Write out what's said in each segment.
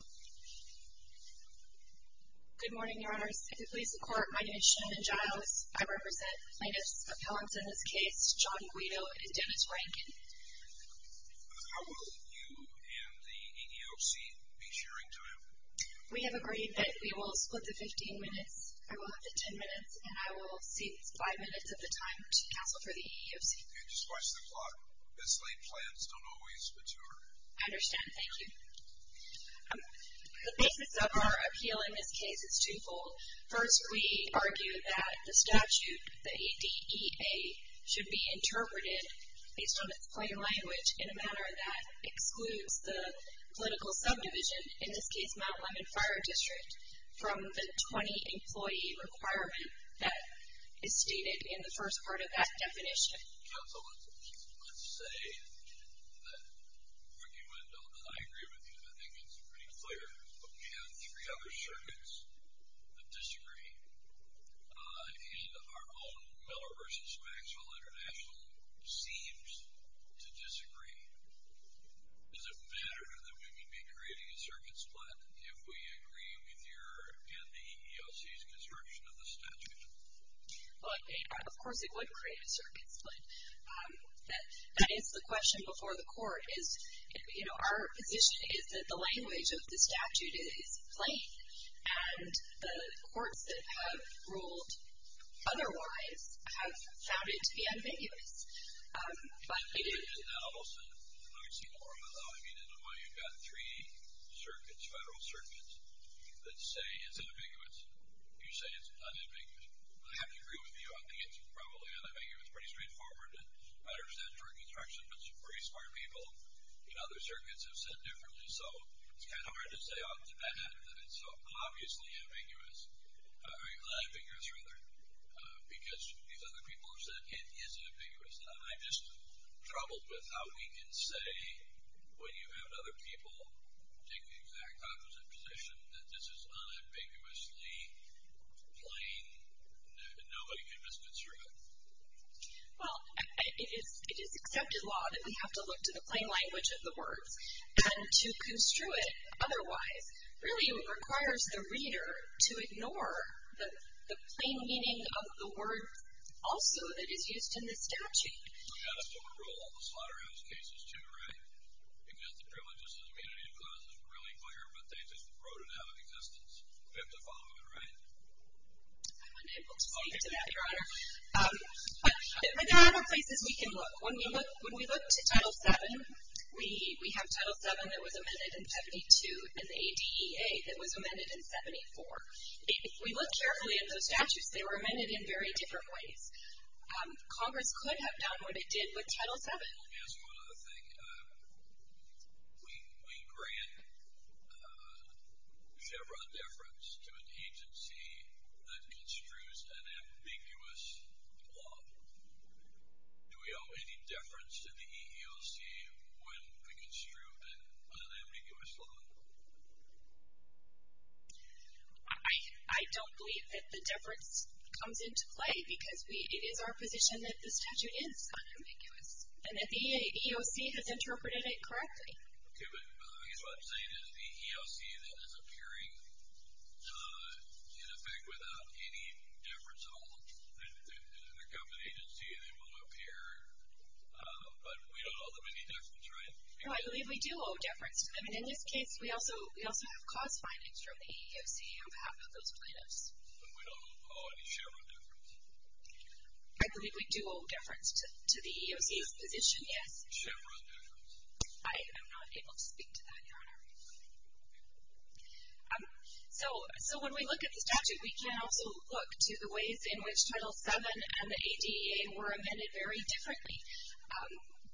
Good morning, Your Honors. If you'll please support, my name is Shannon Giles. I represent plaintiffs' appellants in this case, John Guido and Dennis Rankin. How will you and the EEOC be sharing time? We have agreed that we will split the 15 minutes. I will have the 10 minutes, and I will cede 5 minutes of the time to counsel for the EEOC. Just watch the clock. Mislaid plans don't always mature. I understand. Thank you. The basis of our appeal in this case is two-fold. First, we argue that the statute, the ADEA, should be interpreted, based on its plain language, in a manner that excludes the political subdivision, in this case Mount Lemmon Fire District, from the 20-employee requirement that is stated in the first part of that definition. Counsel, let's say that what you end on, and I agree with you, I think it's pretty clear, but we have three other circuits that disagree, and our own Miller v. Maxwell International seems to disagree. Does it matter that we would be creating a circuit split if we agree with your and the EEOC's construction of the statute? Well, of course it would create a circuit split. That is the question before the court. Our position is that the language of the statute is plain, and the courts that have ruled otherwise have found it to be ambiguous. In the analysis, I mean, in a way, you've got three circuits, federal circuits, that say it's ambiguous. You say it's unambiguous. I have to agree with you, I think it's probably unambiguous, pretty straightforward, it matters that during construction, but some pretty smart people in other circuits have said differently, so it's kind of hard to say off the bat that it's so obviously ambiguous, unambiguous rather, because these other people have said it is ambiguous. And I'm just troubled with how we can say, when you have other people take the exact opposite position, that this is unambiguously plain and nobody can misconstrue it. Well, it is accepted law that we have to look to the plain language of the words, and to construe it otherwise really requires the reader to ignore the plain meaning of the words also that is used in the statute. We've got to still enroll all the slaughterhouse cases, too, right? Because the privileges and immunity clause is really clear, but they just wrote it out of existence. We have to follow it, right? I'm unable to speak to that, Your Honor. But there are other places we can look. When we look to Title VII, we have Title VII that was amended in 72, and the ADEA that was amended in 74. If we look carefully at those statutes, they were amended in very different ways. Congress could have done what it did with Title VII. Let me ask you one other thing. We grant Chevron deference to an agency that construes an ambiguous law. Do we owe any deference to the EEOC when we construe an unambiguous law? I don't believe that the deference comes into play because it is our position that the statute is unambiguous, and that the EEOC has interpreted it correctly. Okay, but I guess what I'm saying is the EEOC then is appearing, in effect, without any deference at all in the government agency. They won't appear, but we don't owe them any deference, right? No, I believe we do owe deference. I mean, in this case, we also have cause findings from the EEOC on behalf of those plaintiffs. But we don't owe any Chevron deference? I believe we do owe deference to the EEOC's position, yes. I am not able to speak to that, Your Honor. So when we look at the statute, we can also look to the ways in which Title VII and the ADEA were amended very differently.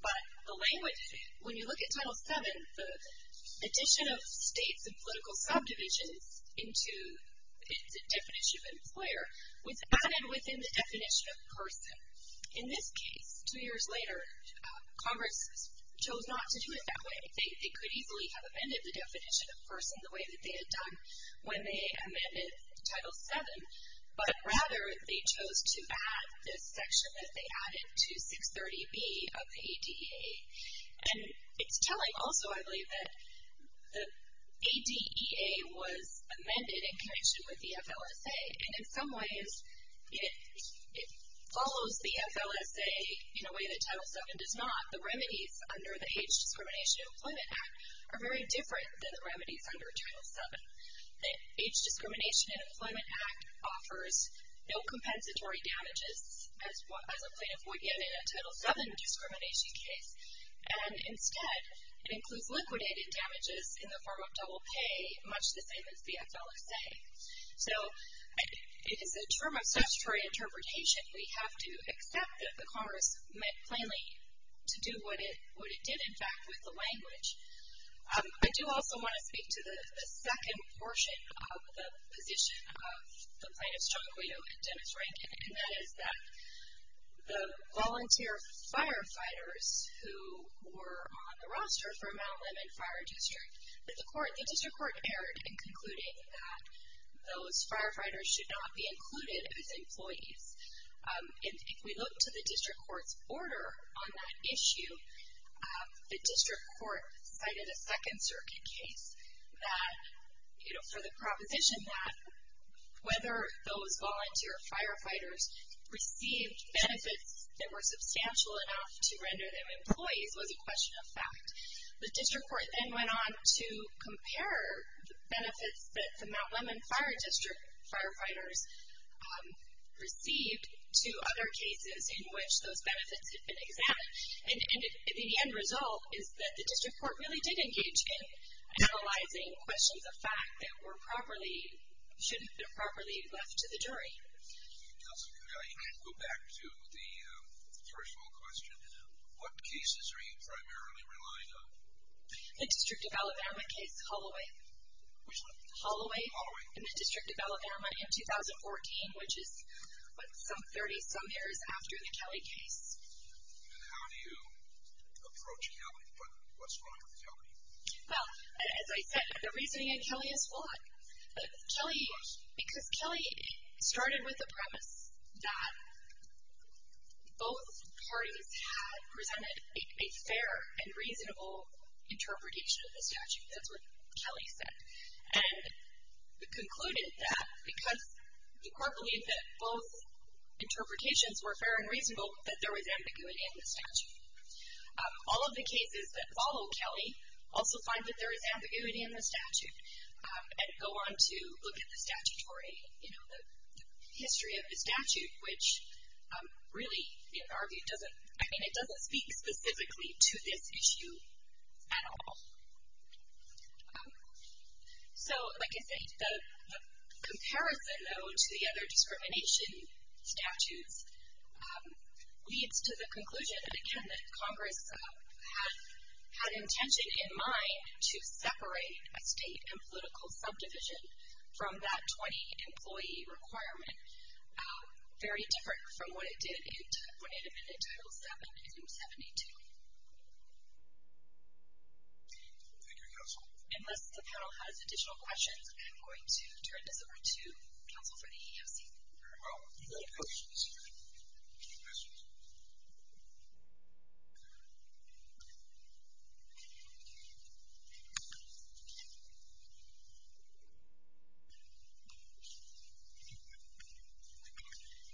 But the way when you look at Title VII, the addition of states and political subdivisions into its definition of employer was added within the definition of person. In this case, two years later, Congress chose not to do it that way. They could easily have amended the definition of person the way that they had done when they amended Title VII, but rather they chose to add this section that they added to 630B of the ADEA. And it's telling also, I believe, that the ADEA was amended in connection with the FLSA. And in some ways, it follows the FLSA in a way that Title VII does not. The remedies under the Age Discrimination and Employment Act are very different than the remedies under Title VII. The Age Discrimination and Employment Act offers no compensatory damages as a plaintiff would get in a Title VII discrimination case. And instead, it includes liquidated damages in the form of double pay, much the same as the FLSA. So it is a term of statutory interpretation. We have to accept that the Congress meant plainly to do what it did, in fact, with the language. I do also want to speak to the second portion of the position of the plaintiffs, John Guido and Dennis Rankin, and that is that the volunteer firefighters who were on the roster for Mount Lemmon Fire District, the district court erred in concluding that those firefighters should not be included as employees. If we look to the district court's order on that issue, the district court cited a Second Circuit case for the proposition that whether those volunteer firefighters received benefits that were substantial enough to render them employees was a question of fact. The district court then went on to compare the benefits that the Mount Lemmon Fire District firefighters received to other cases in which those benefits had been examined. And the end result is that the district court really did engage in analyzing questions of fact that were properly, shouldn't have been properly left to the jury. You can go back to the first of all question. What cases are you primarily relying on? The District of Alabama case Holloway. Which one? Holloway. Holloway. In the District of Alabama in 2014, which is, what, some 30-some years after the Kelly case. And how do you approach Kelly? What's wrong with Kelly? Well, as I said, the reasoning in Kelly is flawed. Because Kelly started with the premise that both parties had presented a fair and reasonable interpretation of the statute. That's what Kelly said. And concluded that because the court believed that both interpretations were fair and reasonable, that there was ambiguity in the statute. All of the cases that follow Kelly also find that there is ambiguity in the statute. And go on to look at the statutory, you know, the history of the statute, which really, in our view, doesn't, I mean it doesn't speak specifically to this issue at all. So, like I said, the comparison, though, to the other discrimination statutes leads to the conclusion, again, that Congress had intention in mind to separate a state and political subdivision from that 20-employee requirement. Very different from what it did in 10.8 Amendment Titles 7 and 72. Thank you, counsel. Unless the panel has additional questions, I'm going to turn this over to counsel for the EEOC. Very well. Any other questions? Questions?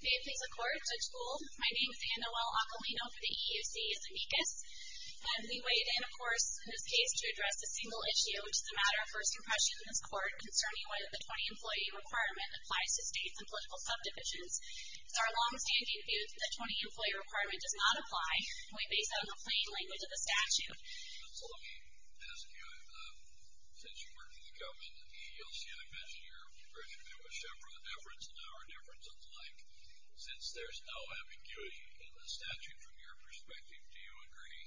May it please the Court. Judge Buhl. My name is Anne Noel-Acalino for the EEOC as amicus. We weighed in, of course, in this case to address a single issue, which is the matter of first impression in this court, concerning whether the 20-employee requirement applies to states and political subdivisions. It's our longstanding view that the 20-employee requirement does not apply, and we base that on the plain language of the statute. So let me ask you, since you work for the government and the EEOC, I imagine you're very familiar with Chevron deference and our deference and the like. Since there's no ambiguity in the statute from your perspective, do you agree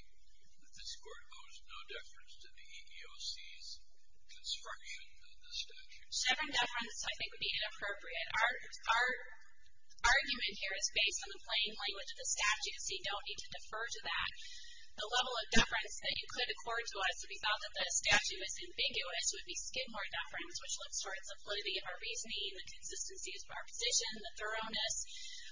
that this court owes no deference to the EEOC's construction of the statute? Chevron deference, I think, would be inappropriate. Our argument here is based on the plain language of the statute, so you don't need to defer to that. The level of deference that you could accord to us if you thought that the statute was ambiguous would be Skidmore deference, which looks towards the validity of our reasoning, the consistency of our position, the thoroughness.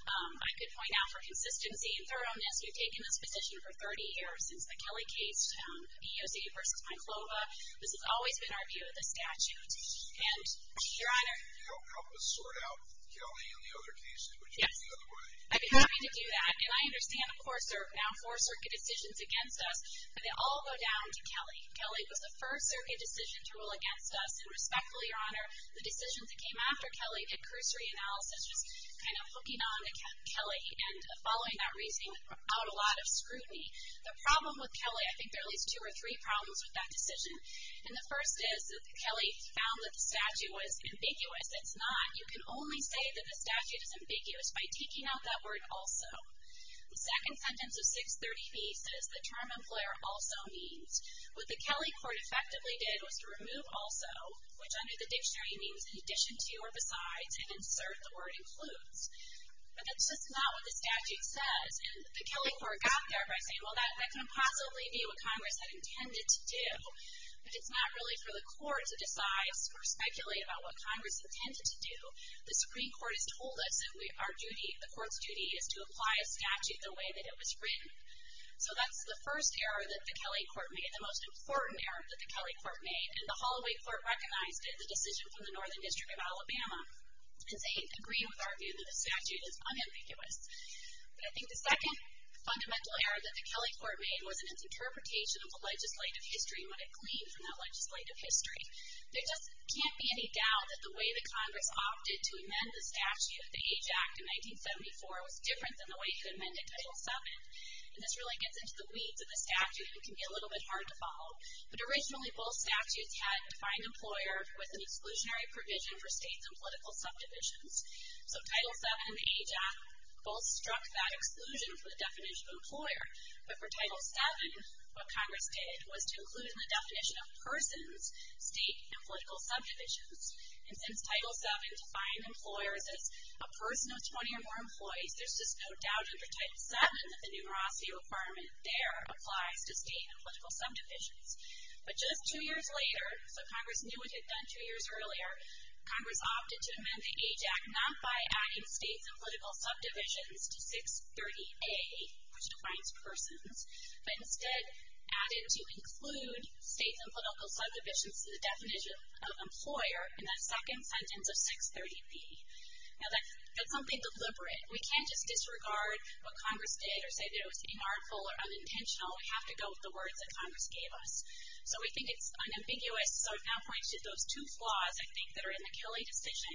I could point out for consistency and thoroughness, you've taken this position for 30 years since the Kelly case, EEOC v. Myclova. This has always been our view of the statute. And, Your Honor? Help us sort out Kelly and the other cases. Would you go the other way? I'd be happy to do that. And I understand, of course, there are now four circuit decisions against us, but they all go down to Kelly. Kelly was the first circuit decision to rule against us, and respectfully, Your Honor, the decisions that came after Kelly, the cursory analysis was kind of hooking on to Kelly and following that reasoning brought out a lot of scrutiny. The problem with Kelly, I think there are at least two or three problems with that decision, and the first is that Kelly found that the statute was ambiguous. It's not. You can only say that the statute is ambiguous by taking out that word also. The second sentence of 630B says the term employer also means. What the Kelly court effectively did was to remove also, which under the dictionary means in addition to or besides, and insert the word includes. But that's just not what the statute says. And the Kelly court got there by saying, well, that can possibly be what Congress had intended to do, but it's not really for the court to decide or speculate about what Congress intended to do. The Supreme Court has told us that our duty, the court's duty, is to apply a statute the way that it was written. So that's the first error that the Kelly court made, the most important error that the Kelly court made, and the Holloway court recognized it, the decision from the Northern District of Alabama, and they agreed with our view that the statute is unambiguous. But I think the second fundamental error that the Kelly court made was in its interpretation of the legislative history, what it gleaned from that legislative history. There just can't be any doubt that the way that Congress opted to amend the statute, the Age Act in 1974, was different than the way it could have been in Title VII, and this really gets into the weeds of the statute and can be a little bit hard to follow. But originally both statutes had defined employer with an exclusionary provision for states and political subdivisions. So Title VII and the Age Act both struck that exclusion for the definition of employer, but for Title VII, what Congress did was to include in the definition of persons state and political subdivisions, and since Title VII defined employers as a person of 20 or more employees, there's just no doubt under Title VII that the numerosity requirement there applies to state and political subdivisions. But just two years later, so Congress knew what it had done two years earlier, Congress opted to amend the Age Act not by adding states and political subdivisions to 630A, which defines persons, but instead added to include states and political subdivisions to the definition of employer in that second sentence of 630B. Now that's something deliberate. We can't just disregard what Congress did or say that it was inartful or unintentional. We have to go with the words that Congress gave us. So we think it's unambiguous. So it now points to those two flaws, I think, that are in the Kelly decision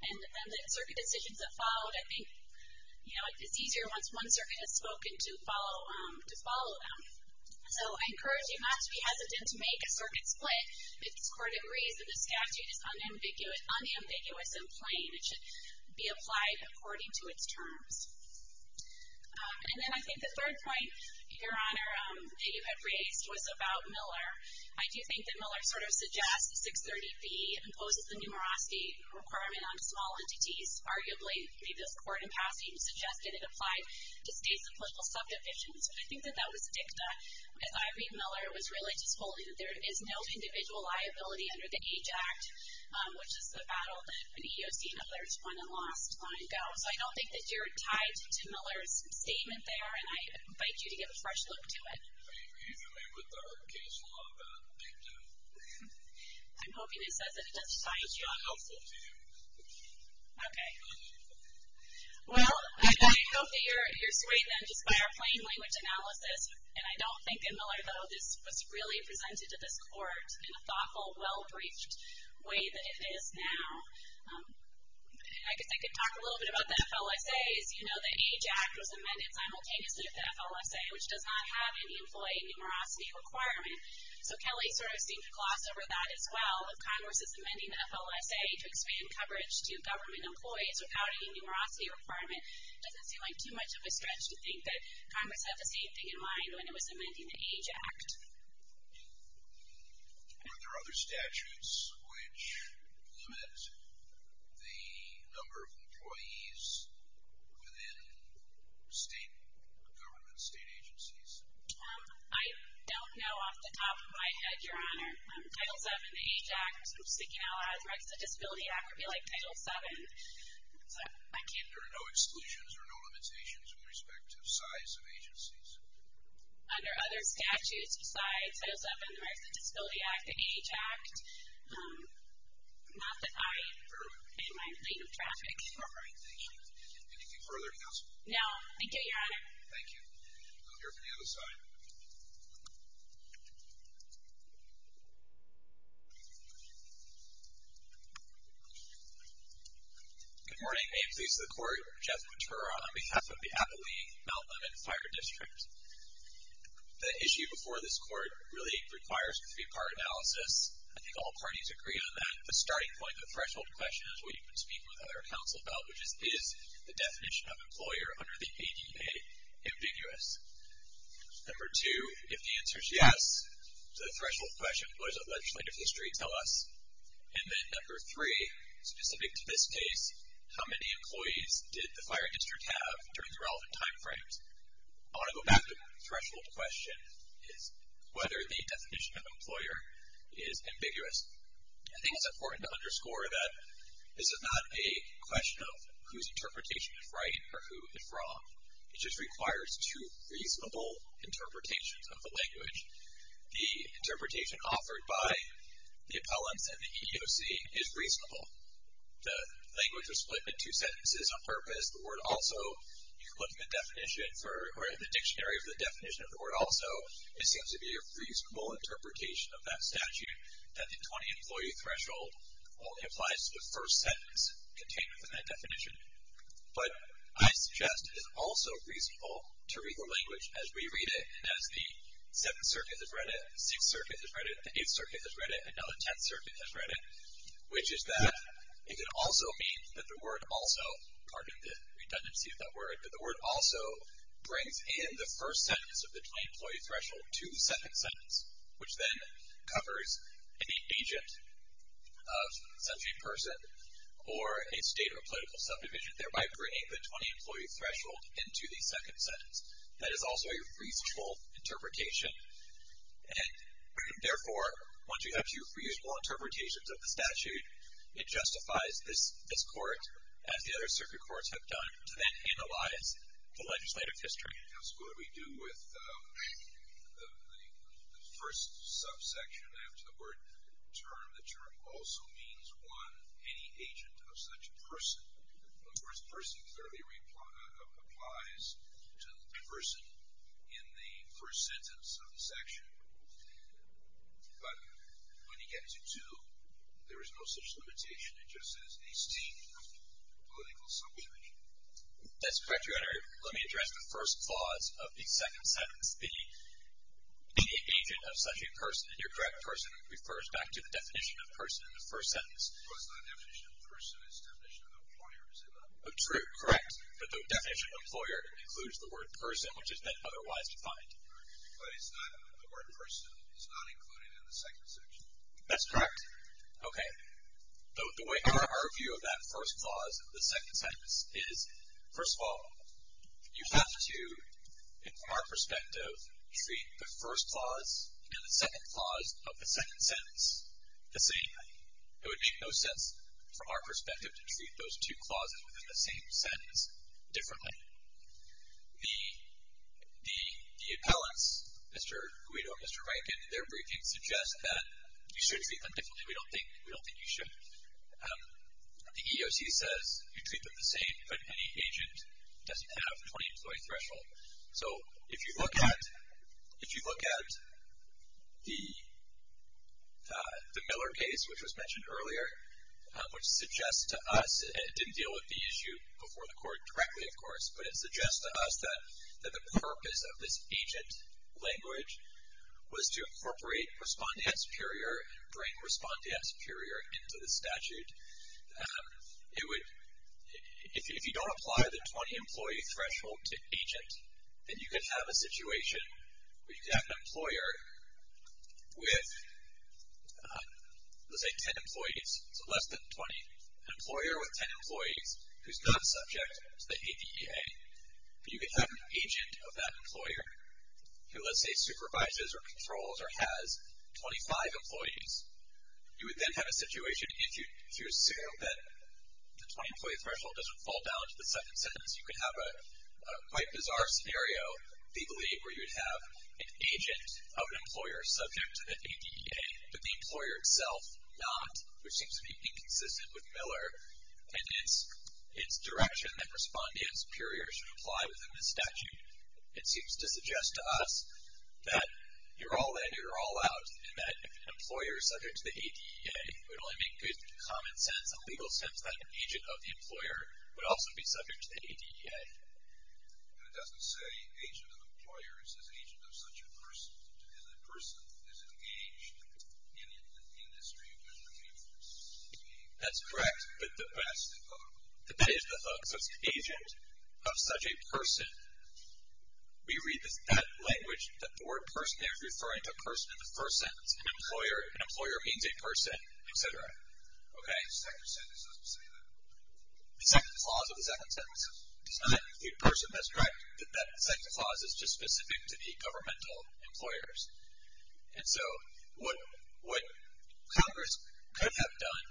and the circuit decisions that followed. I think it's easier once one circuit has spoken to follow them. So I encourage you not to be hesitant to make a circuit split if this Court agrees that the statute is unambiguous and plain. It should be applied according to its terms. And then I think the third point, Your Honor, that you had raised was about Miller. I do think that Miller sort of suggests 630B imposes the numerosity requirement on small entities, arguably. This Court in passing suggested it applied to states and political subdivisions. I think that that was dicta. As I read Miller, it was really just holding that there is no individual liability under the Age Act, which is the battle that the EEOC and others won and lost long ago. So I don't think that you're tied to Miller's statement there, and I invite you to give a fresh look to it. I mean, you know, they put the hard case law on that dicta. I'm hoping it says that it does tie it to you. It does tie it to you. Okay. Well, I hope that you're swayed then just by our plain language analysis. And I don't think in Miller, though, this was really presented to this Court in a thoughtful, well-breached way that it is now. I guess I could talk a little bit about the FLSA. As you know, the Age Act was amended simultaneously with the FLSA, which does not have any employee numerosity requirement. So Kelly sort of seemed to gloss over that as well. If Congress is amending the FLSA to expand coverage to government employees without any numerosity requirement, doesn't seem like too much of a stretch to think that Congress had the same thing in mind when it was amending the Age Act. Were there other statutes which limit the number of employees within state government, state agencies? I don't know off the top of my head, Your Honor. Title VII, the Age Act, speaking out a lot of threats to the Disability Act, would be like Title VII. There are no exclusions or no limitations with respect to size of agencies? Under other statutes besides Title VII, the Rights of the Disability Act, the Age Act, not that I am in my lane of traffic. All right. Thank you. Anything further, Counsel? No. Thank you, Your Honor. Thank you. We'll hear from the other side. Good morning. May it please the Court. Jeff Quintoro on behalf of the Appalachee Mount Lemmon Fire District. The issue before this Court really requires a three-part analysis. I think all parties agree on that. The starting point, the threshold question, is what you've been speaking with other counsel about, which is, is the definition of employer under the ADA ambiguous? Number two, if the answer is yes to the threshold question, what does the legislative history tell us? And then number three, specific to this case, how many employees did the fire district have during the relevant timeframes? I want to go back to the threshold question, whether the definition of employer is ambiguous. I think it's important to underscore that this is not a question of whose interpretation is right or who is wrong. It just requires two reasonable interpretations of the language. The interpretation offered by the appellants and the EEOC is reasonable. The language was split in two sentences on purpose. The word also, you can look in the definition for, or in the dictionary for the definition of the word also, it seems to be a reasonable interpretation of that statute, that the 20 employee threshold only applies to the first sentence contained within that definition. But I suggest it is also reasonable to read the language as we read it, as the Seventh Circuit has read it, the Sixth Circuit has read it, the Eighth Circuit has read it, and now the Tenth Circuit has read it, which is that it can also mean that the word also, pardon the redundancy of that word, but the word also brings in the first sentence of the 20 employee threshold to the second sentence, which then covers an agent of such a person, or a state or political subdivision, thereby bringing the 20 employee threshold into the second sentence. That is also a reasonable interpretation. And, therefore, once you have two reasonable interpretations of the statute, it justifies this court, as the other circuit courts have done, to then analyze the legislative history. Yes, what do we do with the first subsection after the word term? The term also means, one, any agent of such a person. Of course, person clearly applies to the person in the first sentence of the section, but when you get to two, there is no such limitation. It just is a state or political subdivision. That's correct, Your Honor. Let me address the first clause of the second sentence. The agent of such a person, and you're correct, person refers back to the definition of person in the first sentence. Well, it's not definition of person. It's definition of employer, is it not? True, correct. But the definition of employer includes the word person, which is then otherwise defined. Because the word person is not included in the second section. That's correct. Okay. The way our view of that first clause of the second sentence is, first of all, you have to, from our perspective, treat the first clause and the second clause of the second sentence the same. It would make no sense, from our perspective, to treat those two clauses within the same sentence differently. The appellants, Mr. Guido and Mr. Rankin, in their briefing suggest that you should treat them differently. We don't think you should. The EEOC says you treat them the same, but any agent doesn't have a 20-employee threshold. So if you look at the Miller case, which was mentioned earlier, which suggests to us, and it didn't deal with the issue before the court directly, of course, but it suggests to us that the purpose of this agent language was to If you don't apply the 20-employee threshold to agent, then you could have a situation where you could have an employer with, let's say, 10 employees, so less than 20, an employer with 10 employees who's not subject to the ADEA. You could have an agent of that employer who, let's say, supervises or controls or has 25 employees. You would then have a situation, if you assume that the 20-employee threshold doesn't fall down to the second sentence, you could have a quite bizarre scenario, legally, where you'd have an agent of an employer subject to the ADEA, but the employer itself not, which seems to be inconsistent with Miller, and its direction that respondents, superiors, should apply within the statute. It seems to suggest to us that you're all in, you're all out, and that if an employer is subject to the ADEA, it would only make good common sense and legal sense that an agent of the employer would also be subject to the ADEA. And it doesn't say agent of employers. It says agent of such a person, and the person is engaged in the industry within the workforce. That's correct. But that is the hook. So it's agent of such a person. We read that language, that the word person there is referring to a person in the first sentence, an employer. An employer means a person, et cetera. Okay? The second sentence doesn't say that. The second clause of the second sentence does not include person. That's correct. That second clause is just specific to the governmental employers. And so what Congress could have done.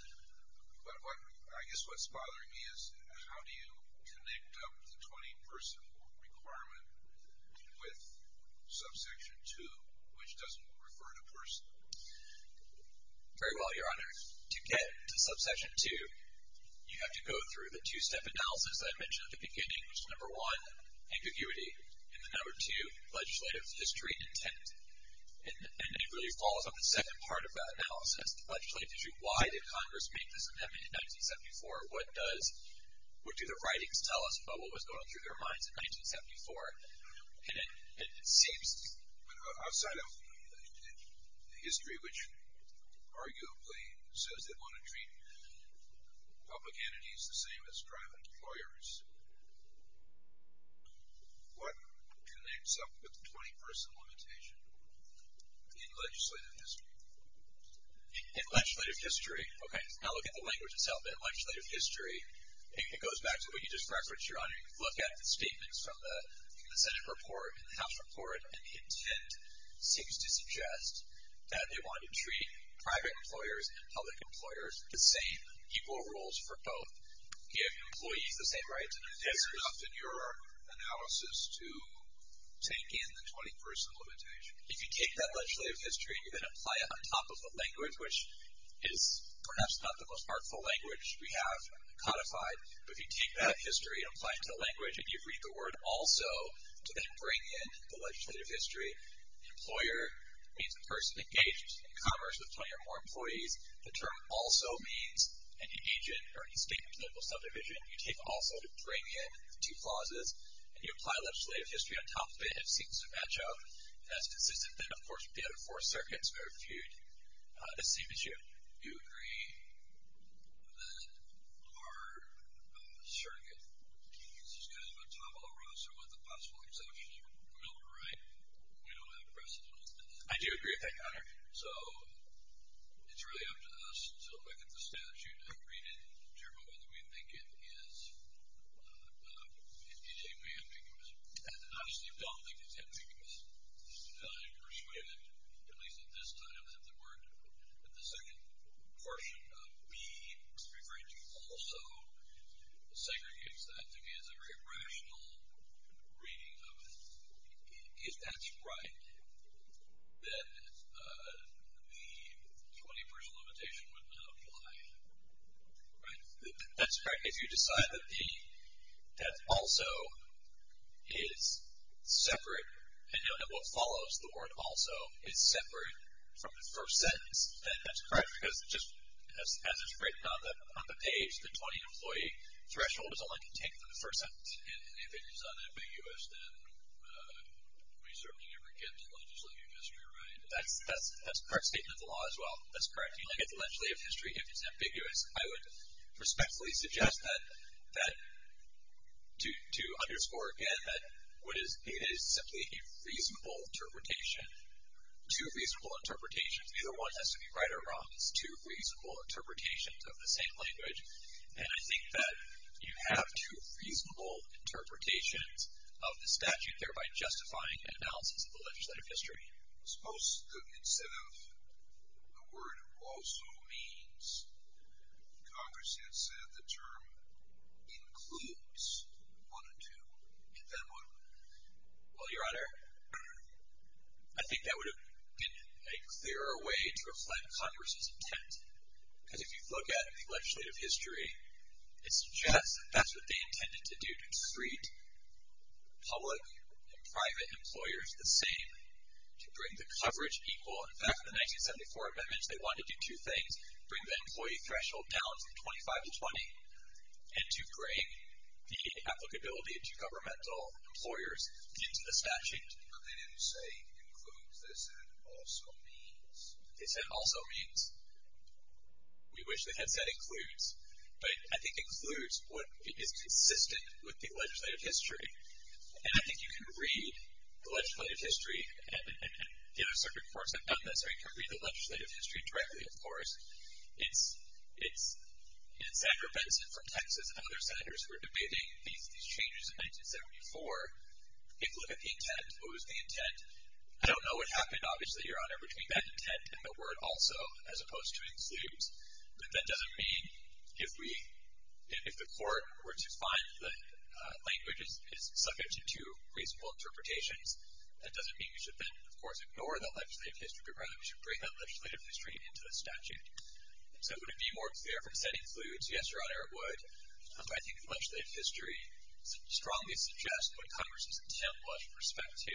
I guess what's bothering me is how do you connect up the 20-person requirement with subsection 2, which doesn't refer to person? Very well, Your Honor. To get to subsection 2, you have to go through the two-step analysis that I mentioned at the beginning, which is number one, ambiguity, and then number two, legislative history intent. And it really falls on the second part of that analysis, the legislative history. Why did Congress make this amendment in 1974? What do the writings tell us about what was going on through their minds in 1974? And it seems outside of history, which arguably says they want to treat public entities the same as private employers, what connects up with the 20-person limitation in legislative history? In legislative history, okay, now look at the language itself. Your Honor. In legislative history, look at the statements from the Senate report and the House report, and the intent seems to suggest that they want to treat private employers and public employers the same, equal roles for both, give employees the same rights. Is this enough in your analysis to take in the 20-person limitation? If you take that legislative history and you then apply it on top of the language, which is perhaps not the most artful language we have codified, but if you take that history and apply it to the language, and you read the word also to then bring in the legislative history, employer means a person engaged in commerce with 20 or more employees. The term also means any agent or any statement of political subdivision. You take also to bring in the two clauses, and you apply legislative history on top of it, and it seems to match up, and that's consistent then, of course, with the other four circuits. The same issue. Do you agree that our circuit is kind of a tomahawk racer with a possible exceptional will to write? We don't have precedent on that. I do agree with that, Your Honor. So it's really up to us to look at the statute and read it to determine whether we think it is in any way ambiguous. Obviously, we don't think it's ambiguous. I'm persuaded, at least at this time, that the second portion of B is referring to also segregates that to be as a very rational reading of it. If that's right, then the 21st limitation would not apply. Right? That's correct. If you decide that also is separate and what follows the word also is separate from the first sentence, then that's correct, because as it's written on the page, the 20 employee threshold is all I can take from the first sentence. And if it is unambiguous, then we certainly never get to legislative history, right? That's a correct statement of the law as well. That's correct. You don't get to legislative history if it's ambiguous. I would respectfully suggest that, to underscore again, that it is simply a reasonable interpretation, two reasonable interpretations. Neither one has to be right or wrong. It's two reasonable interpretations of the same language. And I think that you have two reasonable interpretations of the statute, thereby justifying an analysis of the legislative history. Suppose instead of the word also means, Congress had said the term includes one or two, and then what? Well, Your Honor, I think that would have been a clearer way to reflect Congress's intent. Because if you look at the legislative history, it suggests that that's what they intended to do, to treat public and private employers the same, to bring the coverage equal. In fact, in the 1974 amendments, they wanted to do two things, bring the employee threshold down from 25 to 20, and to bring the applicability to governmental employers into the statute. But they didn't say includes. They said also means. They said also means. We wish they had said includes. But I think includes is consistent with the legislative history. And I think you can read the legislative history, and the other circuit courts have done this, or you can read the legislative history directly, of course. It's Senator Benson from Texas and other senators who were debating these changes in 1974. If you look at the intent, what was the intent? I don't know what happened, obviously, Your Honor, between that intent and the word also, as opposed to includes. But that doesn't mean if the court were to find that language is subject to two reasonable interpretations, that doesn't mean we should then, of course, ignore that legislative history, but rather we should bring that legislative history into the statute. So would it be more clear from saying includes? Yes, Your Honor, it would. But I think the legislative history strongly suggests what Congress's intent was with respect to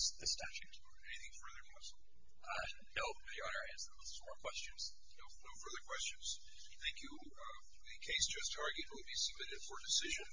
the statute. Anything further? No, Your Honor. That's all the questions. No further questions. Thank you. The case just argued will be submitted for decision.